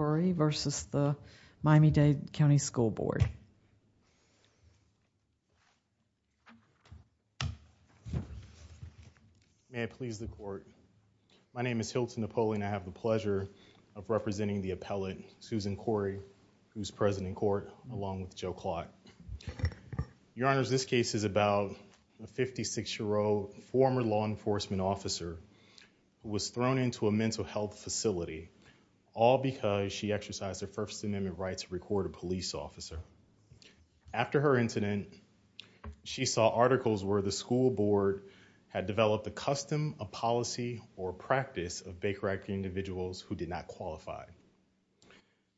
May I please the court? My name is Hilton Napoleon. I have the pleasure of representing the appellate, Susan Khoury, who is present in court along with Joe Clott. Your Honors, this case is about a 56-year-old former law enforcement officer who was thrown into a First Amendment right to record a police officer. After her incident, she saw articles where the school board had developed a custom, a policy, or a practice of bank-correcting individuals who did not qualify.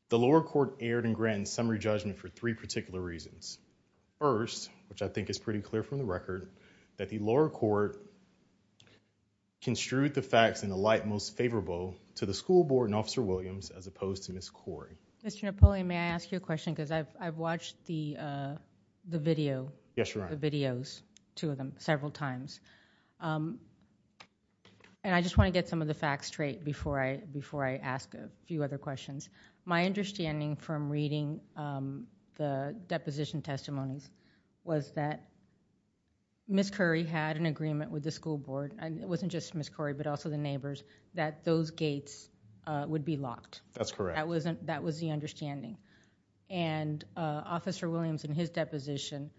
The lower court erred in Granton's summary judgment for three particular reasons. First, which I think is pretty clear from the record, that the lower court construed the facts in a light most favorable to the school board and Officer Ms. Khoury. Mr. Napoleon, may I ask you a question? Because I've watched the video, the videos, two of them, several times. And I just want to get some of the facts straight before I ask a few other questions. My understanding from reading the deposition testimonies was that Ms. Khoury had an agreement with the school board, and it wasn't just Ms. Khoury but also the neighbors, that those gates would be locked. That was the understanding. And Officer Williams in his deposition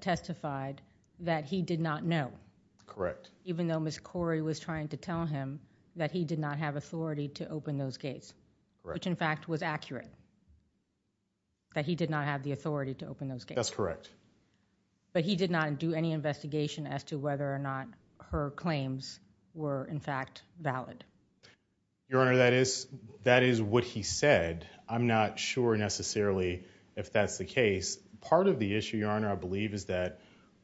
testified that he did not know, even though Ms. Khoury was trying to tell him that he did not have authority to open those gates, which in fact was accurate, that he did not have the authority to open those gates. But he did not do any Your Honor, that is what he said. I'm not sure necessarily if that's the case. Part of the issue, Your Honor, I believe is that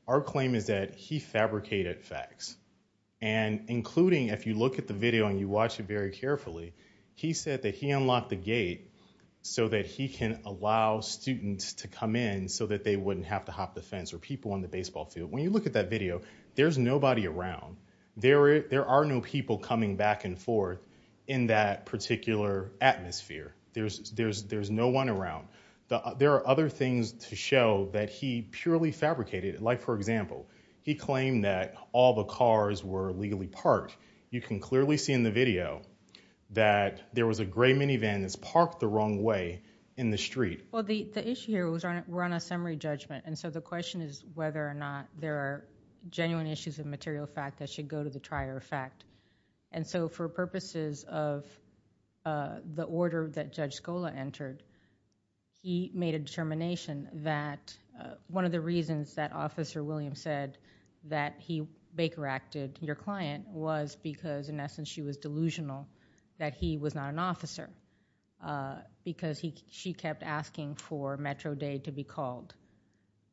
our claim is that he fabricated facts. And including if you look at the video and you watch it very carefully, he said that he unlocked the gate so that he can allow students to come in so that they wouldn't have to hop the fence or people on the baseball field. When you look at that video, there's nobody around. There are no people coming back and forth in that particular atmosphere. There's no one around. There are other things to show that he purely fabricated. Like, for example, he claimed that all the cars were legally parked. You can clearly see in the video that there was a gray minivan that's parked the wrong way in the street. Well, the issue here, we're on a summary judgment, and so the question is whether or not there are genuine issues of material fact that should go to the trier of fact. And so for purposes of the order that Judge Scola entered, he made a determination that one of the reasons that Officer Williams said that he bakeracted your client was because in essence she was delusional that he was not an officer because she kept asking for Metro Day to be called.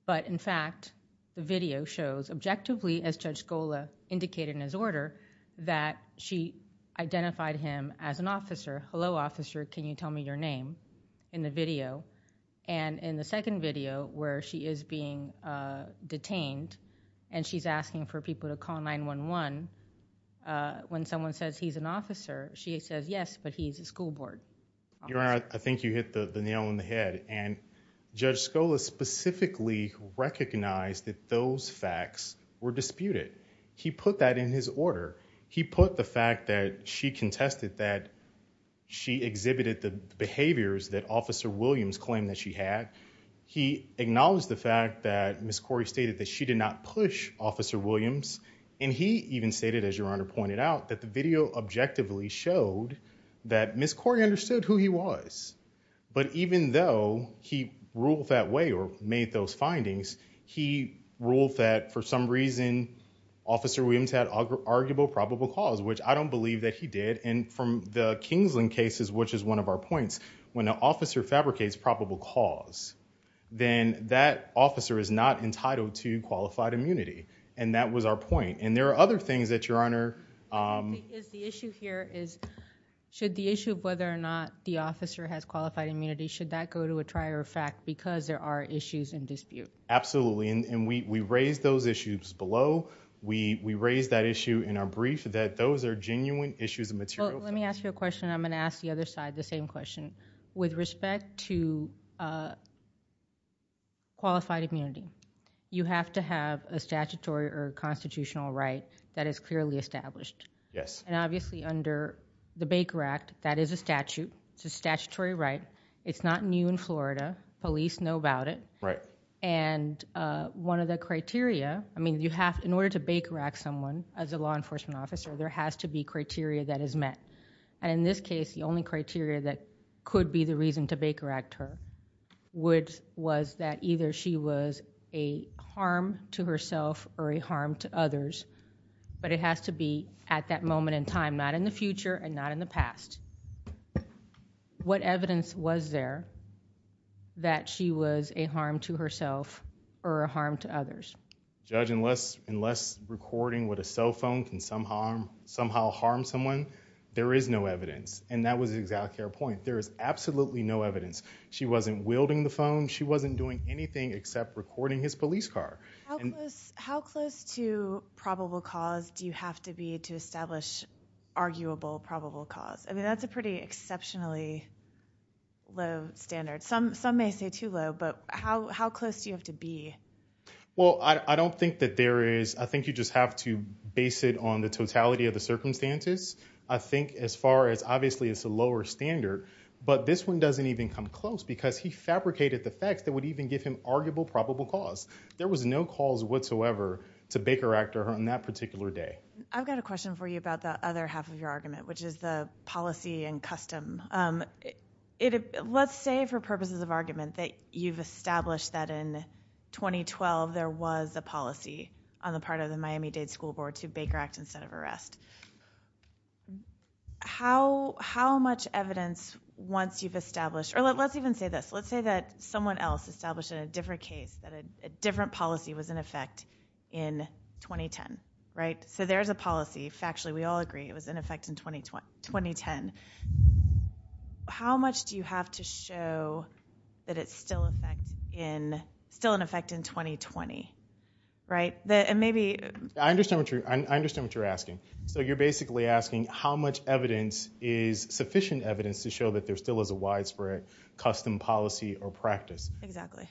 But in fact, the video shows objectively, as Judge Scola indicated in his order, that she identified him as an officer. Hello, officer, can you tell me your name in the video? And in the second video where she is being detained and she's asking for people to call 911, when someone says he's an officer, she says, yes, but he's a school board officer. Your Honor, I think you hit the nail on the head, and Judge Scola specifically recognized that those facts were disputed. He put that in his order. He put the fact that she contested that she exhibited the behaviors that Officer Williams claimed that she had. He acknowledged the fact that Miss Corey stated that she did not push Officer Williams, and he even stated, as Your Honor pointed out, that the video objectively showed that Miss Corey understood who he was. But even though he ruled that way or made those findings, he ruled that for some reason Officer Williams had arguable probable cause, which I don't believe that he did. And from the Kingsland cases, which is one of our points, when an officer fabricates probable cause, then that officer is not entitled to qualified immunity. And that was our point. And there are other things that, Your Honor... The issue here is, should the issue of whether or not the officer has qualified immunity, should that go to a trier of fact because there are issues in dispute? Absolutely. And we raised those issues below. We raised that issue in our brief that those are genuine issues of material... Well, let me ask you a question, and I'm going to ask the other side the same question. With respect to qualified immunity, you have to have a statutory or a constitutional right that is clearly established. Yes. And obviously under the Baker Act, that is a statute. It's a statutory right. It's not new in Florida. Police know about it. Right. And one of the criteria... I mean, in order to Baker Act someone as a law enforcement officer, there has to be criteria that is met. And in this case, the only criteria that could be the reason to Baker Act her, which was that either she was a harm to herself or a harm to others. But it has to be at that moment in time, not in the future and not in the past. What evidence was there that she was a harm to herself or a harm to others? Judge, unless recording with a cell phone can somehow harm someone, there is no evidence. And that was exactly our point. There is absolutely no evidence. She wasn't wielding the phone. She wasn't doing anything except recording his police car. How close to probable cause do you have to be to establish arguable probable cause? I mean, that's a pretty exceptionally low standard. Some may say too low, but how close do you have to be? Well, I don't think that there is... I think you just have to base it on the totality of the circumstances. I think as far as obviously it's a lower standard, but this one doesn't even come close because he fabricated the facts that would even give him arguable probable cause. There was no cause whatsoever to Baker Act her on that particular day. I've got a question for you about the other half of your argument, which is the policy and custom. Let's say for purposes of argument that you've established that in 2012 there was a policy on the part of the Miami-Dade School Board to Baker Act instead of arrest. How much evidence once you've established... or let's even say this. Let's say that someone else established in a different case that a different policy was in effect in 2010. So there is a policy. Factually, we all agree it was in effect in 2010. How much do you have to show that it's still in effect in 2020? I understand what you're asking. So you're basically asking how much evidence is sufficient evidence to show that there still is a widespread custom policy or practice. Exactly.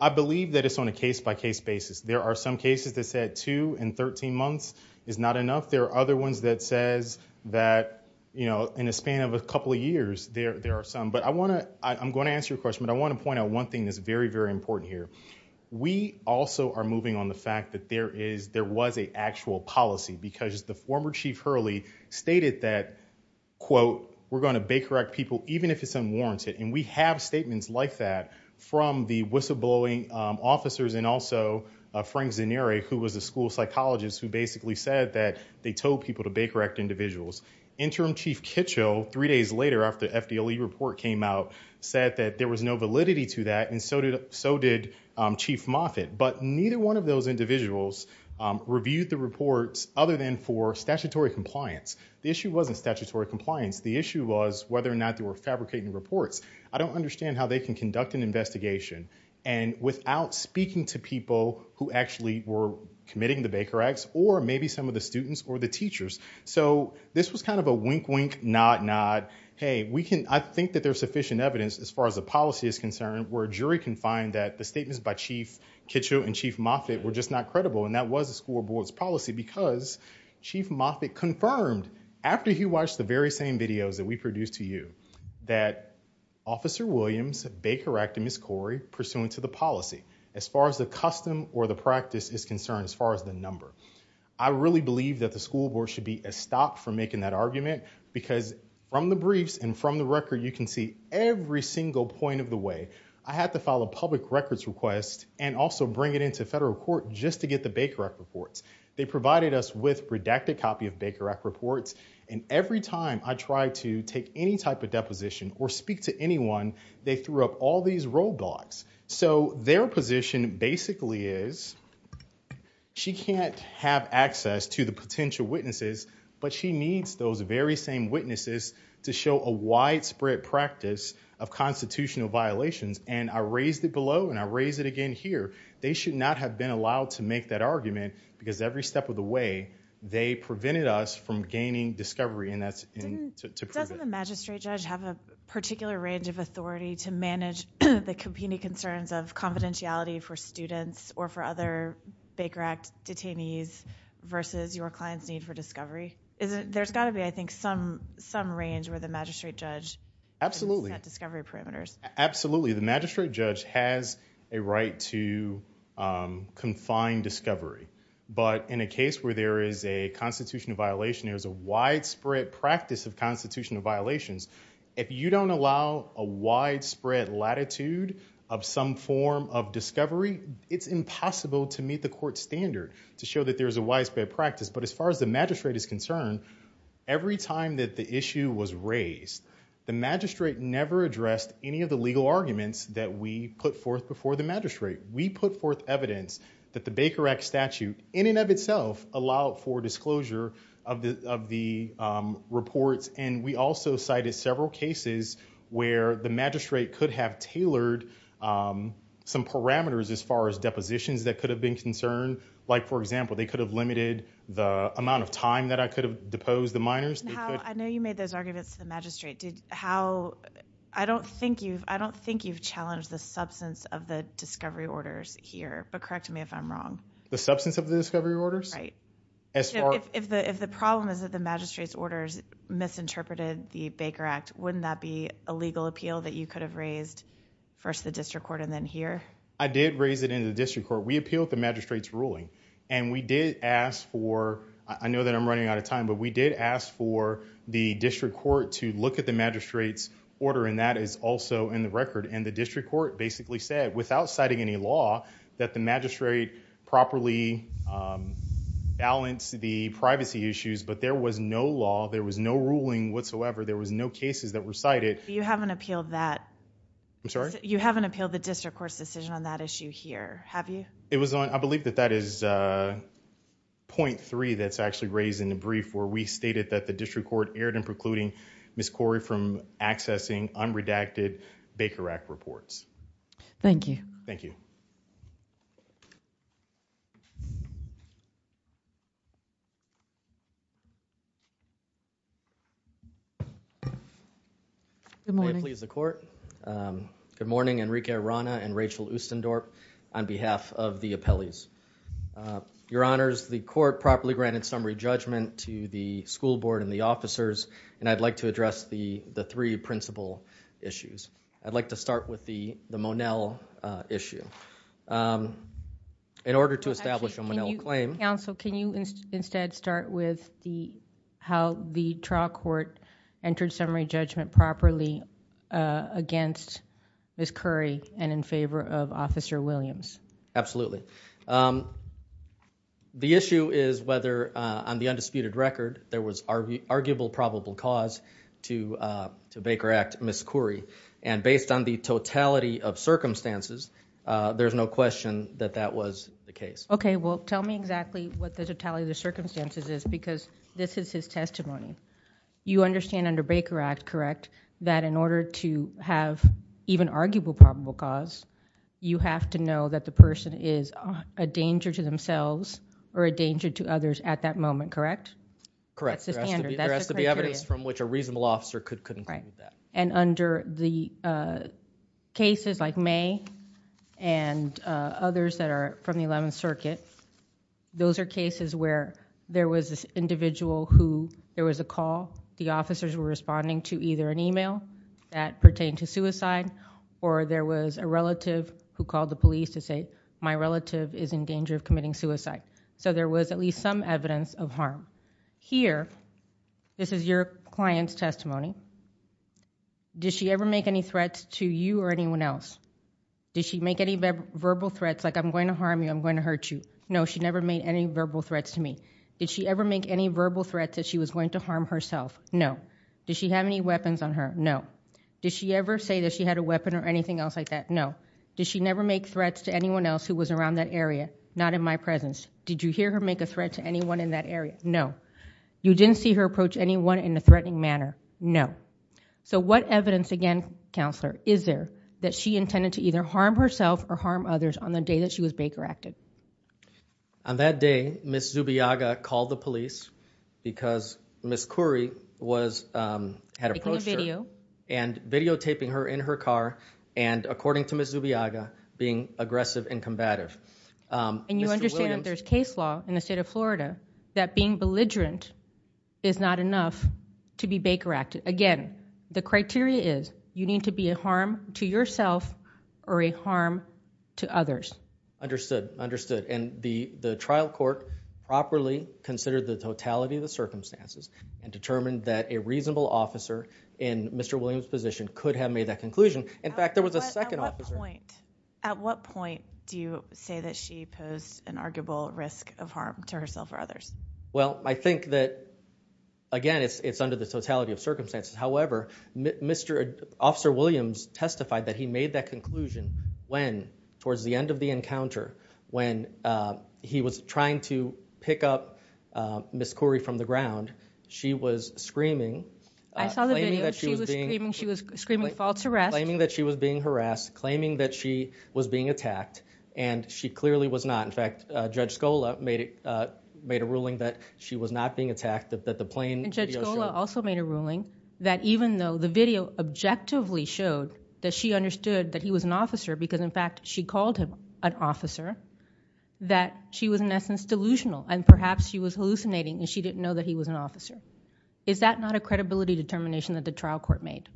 I believe that it's on a case by case basis. There are some cases that said two in 13 months is not enough. There are other ones that says that in a span of a couple of years there are some. I'm going to answer your question, but I want to point out one thing that's very, very important here. We also are moving on the fact that there was an actual policy because the former Chief Hurley stated that, quote, we're going to Baker Act people even if it's unwarranted. We have statements like that from the whistleblowing officers and also Frank Zaneri, who was a school psychologist, who basically said that they told people to the report came out said that there was no validity to that and so did Chief Moffitt. But neither one of those individuals reviewed the reports other than for statutory compliance. The issue wasn't statutory compliance. The issue was whether or not they were fabricating reports. I don't understand how they can conduct an investigation and without speaking to people who actually were committing the Baker Acts or maybe some of the students or the teachers. This was kind of a wink, wink, nod, nod. Hey, I think there's sufficient evidence as far as the policy is concerned where a jury can find that the statements by Chief Kitchell and Chief Moffitt were just not credible and that was the school board's policy because Chief Moffitt confirmed after he watched the very same videos that we produced to you that Officer Williams, Baker Act, and Ms. Corey, pursuant to the policy, as far as the custom or the practice is concerned, as far as the number. I really believe that the school board should be a stop for making that argument because from the briefs and from the record, you can see every single point of the way I had to file a public records request and also bring it into federal court just to get the Baker Act reports. They provided us with redacted copy of Baker Act reports and every time I tried to take any type of deposition or speak to anyone, they threw up all these role blocks. So, their position basically is she can't have access to the potential witnesses, but she needs those very same witnesses to show a widespread practice of constitutional violations and I raised it below and I raised it again here. They should not have been allowed to make that argument because every step of the way, they prevented us from gaining discovery and that's to prove it. Doesn't the magistrate judge have a particular range of authority to manage the competing concerns of confidentiality for students or for other Baker Act detainees versus your client's need for discovery? There's got to be, I think, some range where the magistrate judge set discovery parameters. Absolutely. The magistrate judge has a right to confine discovery, but in a case where there is a constitutional violation, there's a widespread practice of constitutional violations. If you don't allow a widespread latitude of some form of discovery, it's impossible to meet the court standard to show that there's a widespread practice, but as far as the magistrate is concerned, every time that the issue was raised, the magistrate never addressed any of the legal arguments that we put forth before the magistrate. We put forth evidence that the Baker Act statute in and of itself allowed for disclosure of the reports, and we also cited several cases where the magistrate could have tailored some parameters as far as depositions that could have been concerned. Like, for example, they could have limited the amount of time that I could have deposed the minors. I know you made those arguments to the magistrate. I don't think you've challenged the substance of the discovery orders here, but correct me if I'm wrong. The substance of the discovery orders? Right. If the problem is that the magistrate's orders misinterpreted the Baker Act, wouldn't that be a legal appeal that you could have raised first the district court and then here? I did raise it in the district court. We appealed the magistrate's ruling, and we did ask for, I know that I'm running out of time, but we did ask for the district court to look at the magistrate's order, and that is also in the record, and the district court basically said, without citing any law, that the magistrate properly balanced the privacy issues, but there was no law, there was no ruling whatsoever, there was no cases that were cited. You haven't appealed that. I'm sorry? You haven't appealed the district court's decision on that issue here, have you? I believe that that is point three that's actually raised in the brief where we stated that the district court erred in precluding Ms. Corey from accessing unredacted Baker Act reports. Thank you. Thank you. Good morning. May it please the court. Good morning, Enrique Arana and Rachel Ustendorp on behalf of the appellees. Your honors, the court properly granted summary judgment to the school board and the Monell issue. In order to establish a Monell claim- Counsel, can you instead start with how the trial court entered summary judgment properly against Ms. Corey and in favor of Officer Williams? Absolutely. The issue is whether, on the undisputed record, there was arguable probable cause to Baker Act, Ms. Corey. And based on the totality of circumstances, there's no question that that was the case. Okay. Well, tell me exactly what the totality of the circumstances is, because this is his testimony. You understand under Baker Act, correct, that in order to have even arguable probable cause, you have to know that the person is a danger to themselves or a danger to others at that moment, correct? Correct. That's the standard. Which a reasonable officer could include that. And under the cases like May and others that are from the 11th circuit, those are cases where there was this individual who there was a call, the officers were responding to either an email that pertained to suicide, or there was a relative who called the police to say, my relative is in danger of committing suicide. So there was at least some evidence of harm. Here, this is your client's testimony. Did she ever make any threats to you or anyone else? Did she make any verbal threats, like I'm going to harm you, I'm going to hurt you? No, she never made any verbal threats to me. Did she ever make any verbal threats that she was going to harm herself? No. Did she have any weapons on her? No. Did she ever say that she had a weapon or anything else like that? No. Did she never make threats to anyone else who was around that area? Not in my presence. Did you hear her make a threat to anyone in that area? No. You didn't see her approach anyone in a threatening manner? No. So what evidence, again, counselor, is there that she intended to either harm herself or harm others on the day that she was Baker-acted? On that day, Ms. Zubiaga called the police because Ms. Khoury was, had approached her, and videotaping her in her car, and according to Ms. Zubiaga, being aggressive and combative. And you understand that there's case law in the state of Florida that being belligerent is not enough to be Baker-acted. Again, the criteria is you need to be a harm to yourself or a harm to others. Understood. Understood. And the trial court properly considered the totality of the circumstances and determined that a reasonable officer in Mr. Williams' position could have made that conclusion. In fact, there was a second officer. At what point do you say that she posed an arguable risk of harm to herself or others? Well, I think that, again, it's under the totality of circumstances. However, Mr. Officer Williams testified that he made that conclusion when, towards the end of the encounter, when he was trying to pick up Ms. Khoury from the ground. She was screaming. I saw the video. She was screaming false arrest. Claiming that she was being harassed. Claiming that she was being attacked. And she clearly was not. In fact, Judge Scola made a ruling that she was not being attacked, that the plane... And Judge Scola also made a ruling that even though the video objectively showed that she understood that he was an officer because, in fact, she called him an officer, that she was, in essence, delusional. And perhaps she was hallucinating and she didn't know that he was an officer. Is that not a credibility determination that the trial court made?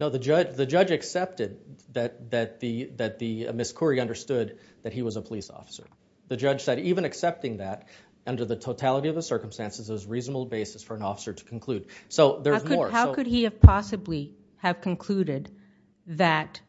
No, the judge accepted that Ms. Khoury understood that he was a police officer. The judge said even accepting that, under the totality of the circumstances, is a reasonable basis for an officer to conclude. So there's more. How could he have possibly have concluded that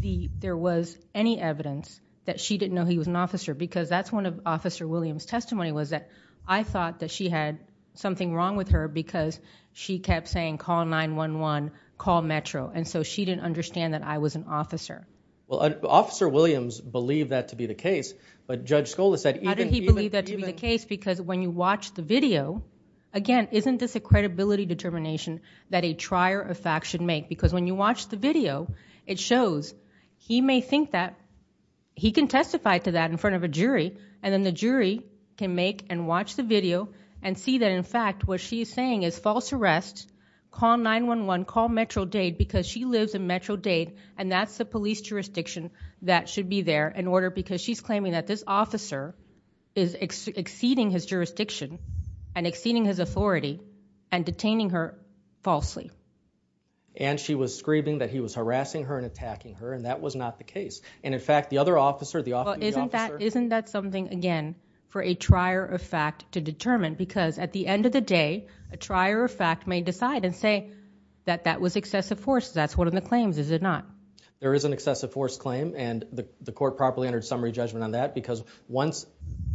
there was any evidence that she didn't know he was an officer? Because that's one of Officer Williams' testimony, was that I thought that she had something wrong with her because she kept saying, call 911, call Metro. And so she didn't understand that I was an officer. Well, Officer Williams believed that to be the case, but Judge Scola said... How did he believe that to be the case? Because when you watch the video, again, isn't this a credibility determination that a trier of fact should make? Because when you watch the video, it shows he may think that... He can testify to that in front of a jury, and then the jury can make and watch the video and see that, in fact, what she's saying is false arrest, call 911, call Metro-Dade, because she lives in Metro-Dade, and that's the police jurisdiction that should be there, in order... Because she's claiming that this officer is exceeding his jurisdiction and exceeding his authority and detaining her falsely. And she was screaming that he was harassing her and attacking her, and that was not the case. And in fact, the other officer... Well, isn't that something, again, for a trier of fact to determine? Because at the end of the day, a trier of fact may decide and say that that was excessive force. That's one of the claims, is it not? There is an excessive force claim, and the court properly entered summary judgment on that, because once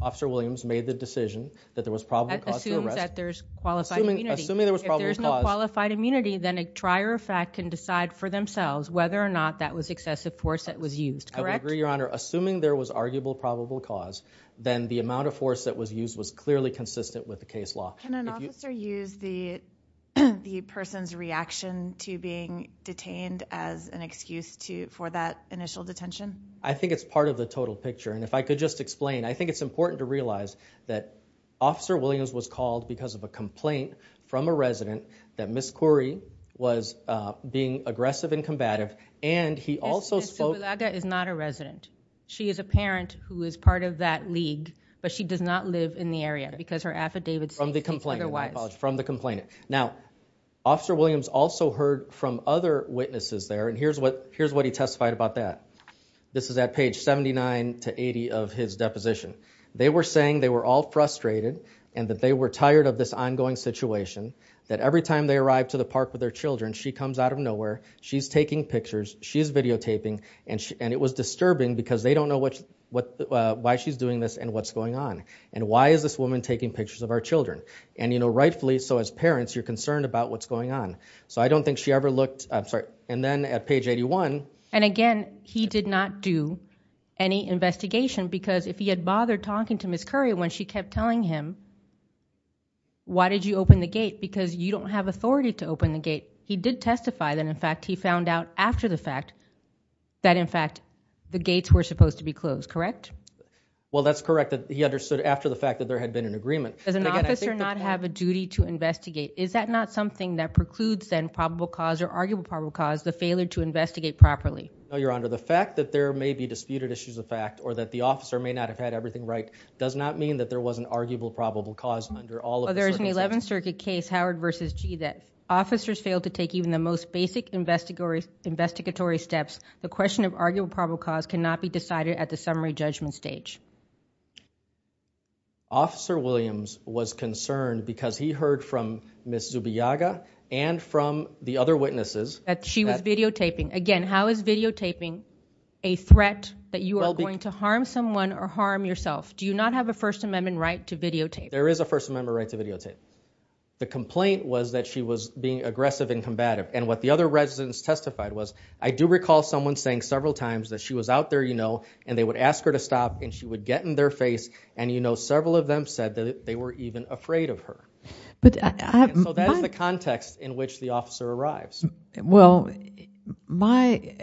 Officer Williams made the decision that there was probable cause to arrest... That assumes that there's qualified immunity. Assuming there was probable cause... If there's no qualified immunity, then a trier of fact can decide for themselves whether or not that was excessive force that was used, correct? I would agree, Your Honor. Assuming there was arguable probable cause, then the amount of force that was used was clearly consistent with the case law. Can an officer use the person's reaction to being detained as an excuse for that initial detention? I think it's part of the total picture. And if I could just explain, I think it's important to realize that Officer Williams was called because of a complaint from a resident that Ms. Khoury was being aggressive and combative, Ms. Zubilaga is not a resident. She is a parent who is part of that league, but she does not live in the area because her affidavit states otherwise. From the complainant, my apologies, from the complainant. Now, Officer Williams also heard from other witnesses there, and here's what he testified about that. This is at page 79 to 80 of his deposition. They were saying they were all frustrated and that they were tired of this ongoing situation, that every time they arrived to the park with their children, she comes out of nowhere, she's taking pictures, she's videotaping, and it was disturbing because they don't know why she's doing this and what's going on. And why is this woman taking pictures of our children? And rightfully, so as parents, you're concerned about what's going on. So I don't think she ever looked, I'm sorry. And then at page 81. And again, he did not do any investigation because if he had bothered talking to Ms. Khoury when she kept telling him, why did you open the gate? Because you don't have authority to open the gate. He did testify that, in fact, he found out after the fact that, in fact, the gates were supposed to be closed, correct? Well, that's correct that he understood after the fact that there had been an agreement. Does an officer not have a duty to investigate? Is that not something that precludes then probable cause or arguable probable cause the failure to investigate properly? No, Your Honor. The fact that there may be disputed issues of fact or that the officer may not have had everything right does not mean that there was an arguable probable cause under all of the circumstances. There's an 11th Circuit case, Howard v. Gee, officers failed to take even the most basic investigatory steps. The question of arguable probable cause cannot be decided at the summary judgment stage. Officer Williams was concerned because he heard from Ms. Zubiaga and from the other witnesses that she was videotaping. Again, how is videotaping a threat that you are going to harm someone or harm yourself? Do you not have a First Amendment right to videotape? There is a First Amendment right to videotape. The complaint was that she was being aggressive and combative. And what the other residents testified was, I do recall someone saying several times that she was out there, you know, and they would ask her to stop and she would get in their face. And, you know, several of them said that they were even afraid of her. So that is the context in which the officer arrives. Well, my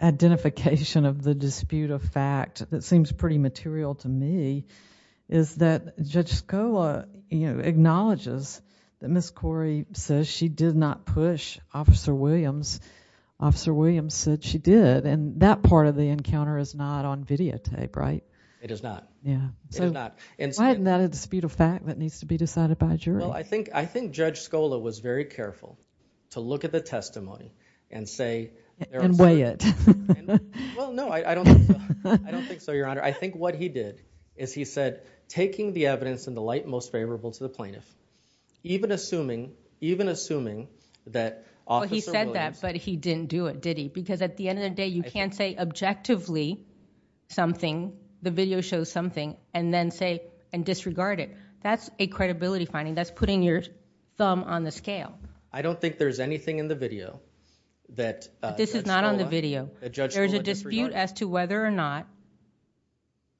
identification of the dispute of fact that seems pretty material to me is that Judge Scola, you know, acknowledges that Ms. Corey says she did not push Officer Williams. Officer Williams said she did. And that part of the encounter is not on videotape, right? It is not. Yeah. So why isn't that a dispute of fact that needs to be decided by a jury? Well, I think Judge Scola was very careful to look at the testimony and say... And weigh it. Well, no, I don't think so, Your Honor. I think what he did is he said, taking the evidence in the light most favorable to the plaintiff, even assuming that Officer Williams... Well, he said that, but he didn't do it, did he? Because at the end of the day, you can't say objectively something, the video shows something, and then say and disregard it. That's a credibility finding. That's putting your thumb on the scale. I don't think there's anything in the video that... This is not on the video. ...that Judge Scola disregarded. ...as to whether or not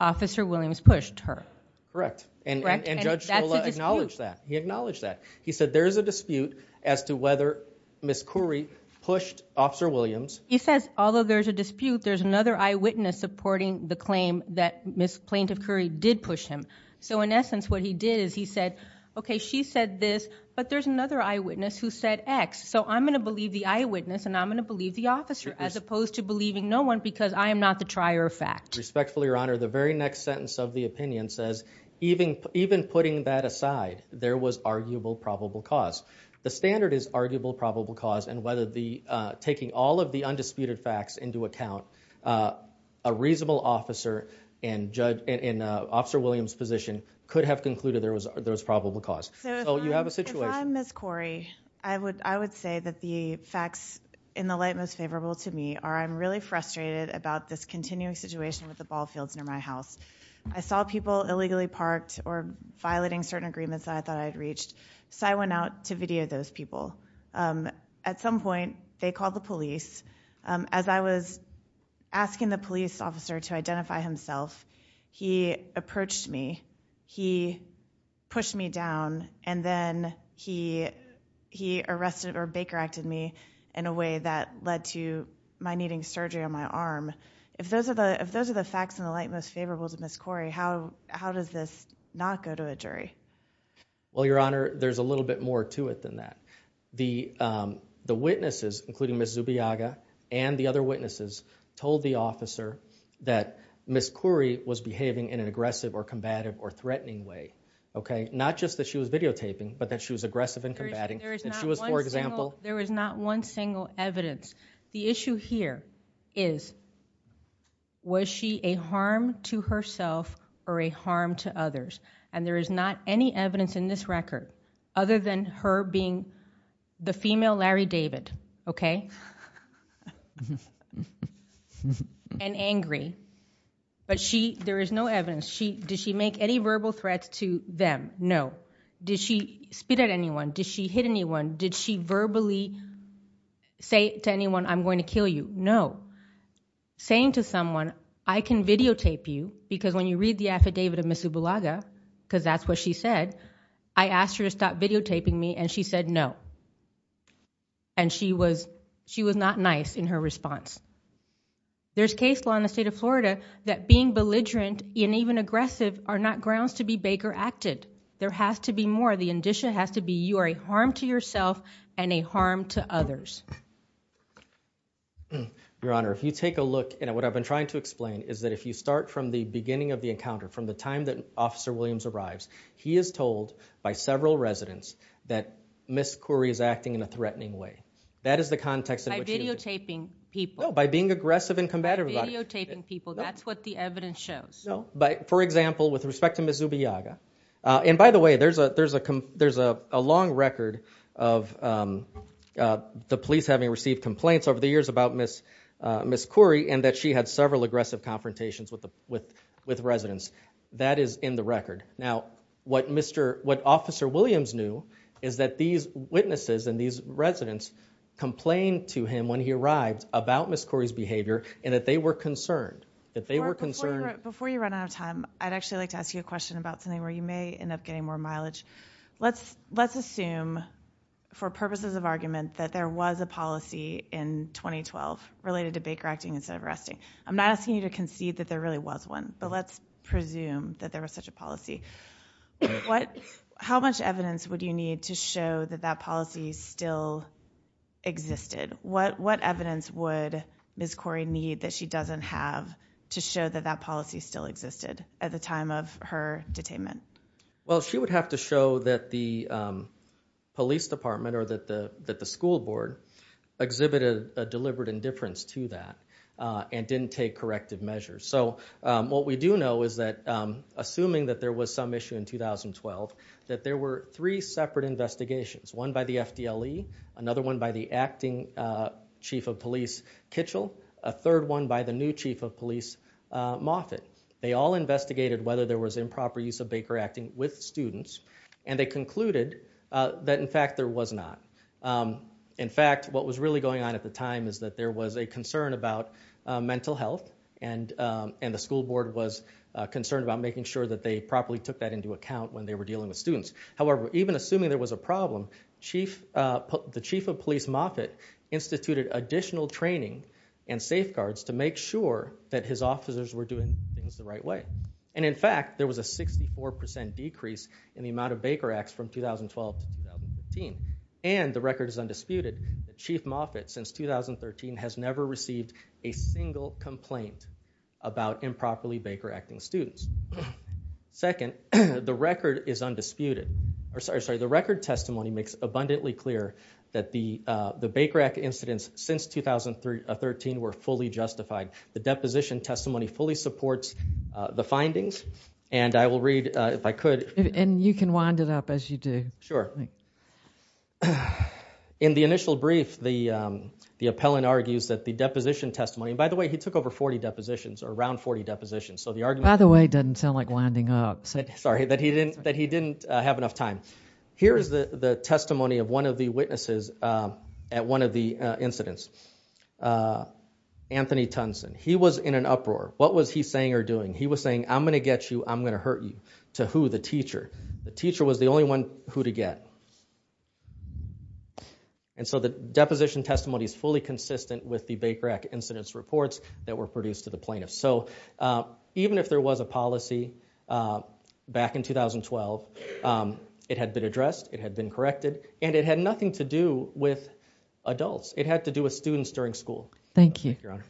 Officer Williams pushed her. Correct. And Judge Scola acknowledged that. He acknowledged that. He said there's a dispute as to whether Ms. Currie pushed Officer Williams. He says, although there's a dispute, there's another eyewitness supporting the claim that Ms. Plaintiff Currie did push him. So in essence, what he did is he said, okay, she said this, but there's another eyewitness who said X. So I'm going to believe the eyewitness, and I'm going to believe the officer, as opposed to believing no one because I am not the trier of fact. Respectfully, Your Honor, the very next sentence of the opinion says, even putting that aside, there was arguable probable cause. The standard is arguable probable cause, and whether taking all of the undisputed facts into account, a reasonable officer in Officer Williams' position could have concluded there was probable cause. So you have a situation... If I'm Ms. Currie, I would say that the facts in the light most favorable to me are I'm really frustrated about this continuing situation with the ball fields near my house. I saw people illegally parked or violating certain agreements that I thought I'd reached, so I went out to video those people. At some point, they called the police. As I was asking the police officer to identify himself, he approached me, he pushed me down, and then he arrested or Baker-acted me in a way that led to my needing surgery on my arm. If those are the facts in the light most favorable to Ms. Currie, how does this not go to a jury? Well, Your Honor, there's a little bit more to it than that. The witnesses, including Ms. Zubiaga and the other witnesses, told the officer that Ms. Currie was behaving in an aggressive or combative or threatening way, okay? Not just that she was videotaping, but that she was aggressive and combating. There is not one single evidence. The issue here is, was she a harm to herself or a harm to others? And there is not any evidence in this record other than her being the female Larry David, okay? And angry. But there is no evidence. Did she make any verbal threats to them? No. Did she spit at anyone? Did she hit anyone? Did she verbally say to anyone, I'm going to kill you? No. Saying to someone, I can videotape you because when you read the affidavit of Ms. Zubiaga, because that's what she said, I asked her to stop videotaping me and she said no. And she was not nice in her response. There's case law in the state of Florida that being belligerent and even aggressive are not grounds to be Baker-acted. There has to be more. The indicia has to be, you are a harm to yourself and a harm to others. Your Honor, if you take a look, and what I've been trying to explain is that if you start from the beginning of the encounter, from the time that Officer Williams arrives, he is told by several residents that Ms. Khoury is acting in a threatening way. That is the context. By videotaping people. By being aggressive and combative about it. Videotaping people. That's what the evidence shows. For example, with respect to Ms. Zubiaga, and by the way, there's a long record of the police having received complaints over the years about Ms. Khoury and that she had several aggressive confrontations with residents. That is in the record. Now, what Officer Williams knew is that these witnesses and these residents complained to him when he arrived about Ms. Khoury's behavior and that they were concerned. Before you run out of time, I'd actually like to ask you a question about something where you may end up getting more mileage. Let's assume, for purposes of argument, that there was a policy in 2012 related to Baker acting instead of resting. I'm not asking you to concede that there really was one, but let's presume that there was such a policy. How much evidence would you need to show that that policy still existed? What evidence would Ms. Khoury need that she doesn't have to show that that policy still existed at the time of her detainment? Well, she would have to show that the police department or that the school board exhibited a deliberate indifference to that and didn't take corrective measures. So what we do know is that, assuming that there was some issue in 2012, that there were three separate investigations, one by the FDLE, another one by the acting chief of police, Kitchell, a third one by the new chief of police, Moffitt. They all investigated whether there was improper use of Baker acting with students and they concluded that, in fact, there was not. In fact, what was really going on at the time is that there was a concern about mental health and the school board was concerned about making sure that they properly took that into account when they were dealing with students. However, even assuming there was a problem, the chief of police, Moffitt, instituted additional training and safeguards to make sure that his officers were doing things the right way. And in fact, there was a 64% decrease in the amount of Baker acts from 2012 to 2015. And the record is undisputed, that Chief Moffitt, since 2013, has never received a single complaint about improperly Baker acting students. Second, the record is undisputed. Or sorry, the record testimony makes abundantly clear that the Baker act incidents since 2013 were fully justified. The deposition testimony fully supports the findings and I will read, if I could... And you can wind it up as you do. Sure. In the initial brief, the appellant argues that the deposition testimony, and by the way, he took over 40 depositions or around 40 depositions, so the argument... By the way, doesn't sound like winding up. Sorry, that he didn't have enough time. Here's the testimony of one of the witnesses at one of the incidents, Anthony Tunson. He was in an uproar. What was he saying or doing? He was saying, I'm gonna get you, I'm gonna hurt you. To who? The teacher. The teacher was the only one who to get. And so the deposition testimony is fully consistent with the Baker act incidents reports that were produced to the plaintiff. So even if there was a policy back in 2012, it had been addressed, it had been corrected, and it had nothing to do with adults. It had to do with students during school. Thank you. Your honor.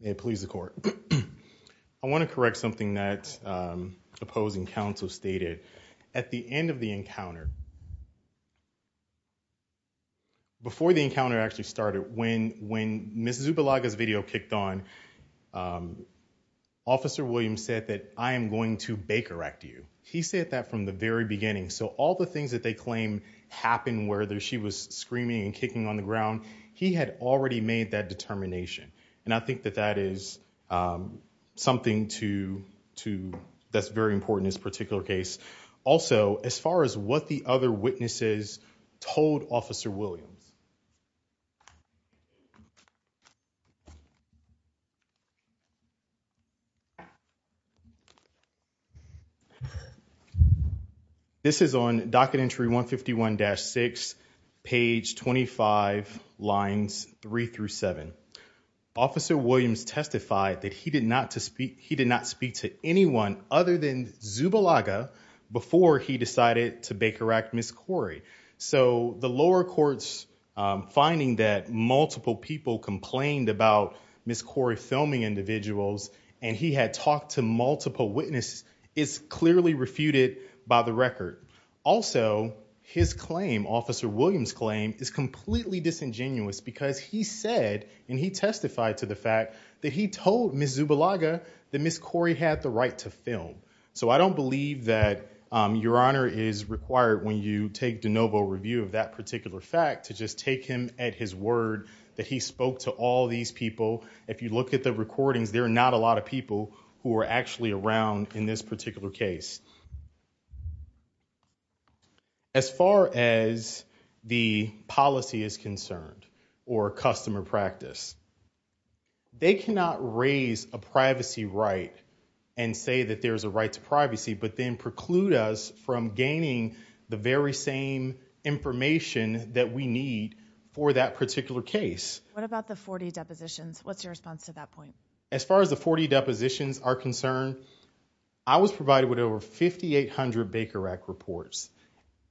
May it please the court. I wanna correct something that opposing counsel stated. At the end of the encounter, before the encounter actually started, when Ms. Zubilaga's video kicked on, Officer Williams said that I am going to Baker act you. He said that from the very beginning. So all the things that they claim happened where she was screaming and kicking on the ground, he had already made that determination. And I think that that is something to that's very important in this particular case. Also, as far as what the other witnesses told Officer Williams, this is on docket entry 151-6, page 25, lines three through seven. Officer Williams testified that he did not speak to anyone other than Zubilaga before he decided to Baker act Ms. Corrie. So the lower courts finding that multiple people complained about Ms. Corrie filming individuals and he had talked to multiple witnesses is clearly refuted by the record. Also, his claim, Officer Williams' claim is completely disingenuous because he said, and he testified to the fact that he told Ms. Zubilaga that Ms. Corrie had the right to film. So I don't believe that your honor is required when you take de novo review of that particular fact to just take him at his word that he spoke to all these people. If you look at the recordings, there are not a lot of people who are actually around in this particular case. As far as the policy is concerned or customer practice, they cannot raise a privacy right and say that there's a right to privacy, but then preclude us from gaining the very same information that we need for that particular case. What about the 40 depositions? What's your response to that point? I was provided with over 40 depositions. 5,800 Baker Act reports.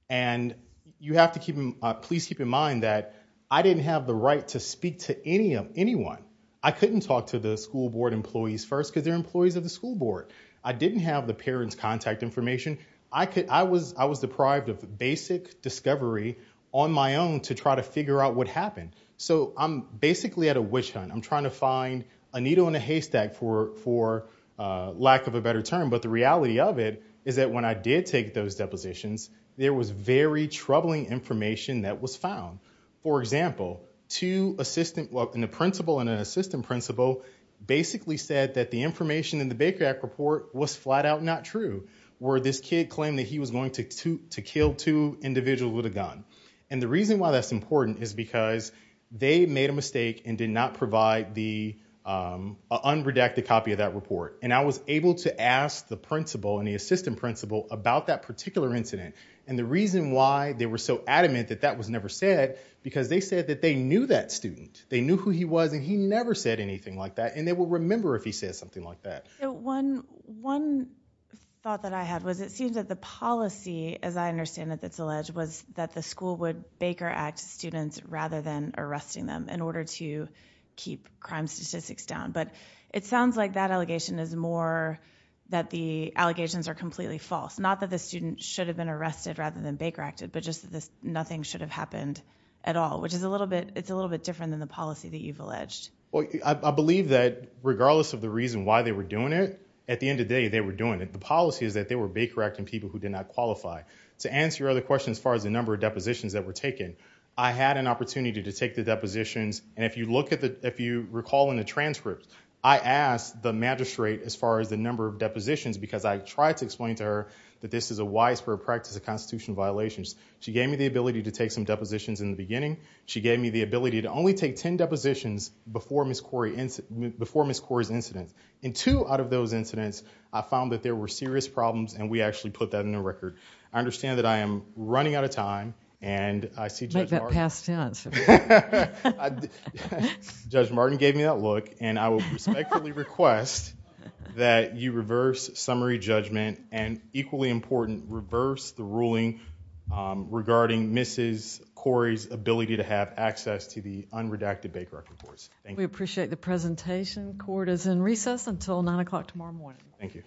And you have to please keep in mind that I didn't have the right to speak to anyone. I couldn't talk to the school board employees first because they're employees of the school board. I didn't have the parents' contact information. I was deprived of basic discovery on my own to try to figure out what happened. So I'm basically at a witch hunt. I'm trying to find a needle in a haystack for lack of a better term. But the reality of it is that when I did take those depositions, there was very troubling information that was found. For example, two assistant, well, a principal and an assistant principal basically said that the information in the Baker Act report was flat out not true, where this kid claimed that he was going to kill two individuals with a gun. And the reason why that's important is because they made a mistake and did not provide the unredacted copy of that report. And I was able to ask the principal and the assistant principal about that particular incident. And the reason why they were so adamant that that was never said because they said that they knew that student. They knew who he was and he never said anything like that. And they will remember if he says something like that. So one thought that I had was, it seems that the policy, as I understand that it's alleged, was that the school would Baker Act students rather than arresting them in order to keep crime statistics down. But it sounds like that allegation is more that the allegations are completely false. Not that the student should have been arrested rather than Baker Acted, but just that nothing should have happened at all, which is a little bit, it's a little bit different than the policy that you've alleged. Well, I believe that regardless of the reason why they were doing it, at the end of the day, they were doing it. The policy is that they were Baker Acting people who did not qualify. To answer your other question, as far as the number of depositions that were taken, I had an opportunity to take the depositions. And if you look at the, if you recall in the transcript, I asked the magistrate, as far as the number of depositions, because I tried to explain to her that this is a wise for a practice of constitutional violations. She gave me the ability to take some depositions in the beginning. She gave me the ability to only take 10 depositions before Ms. Corey's incident. In two out of those incidents, I found that there were serious problems and we actually put that in the record. I understand that I am running out of time. And I see Judge Mark- Like that past tense. Judge Martin gave me that look and I will respectfully request that you reverse summary judgment and equally important, reverse the ruling regarding Mrs. Corey's ability to have access to the unredacted Baker Act reports. Thank you. We appreciate the presentation. Court is in recess until nine o'clock tomorrow morning. Thank you.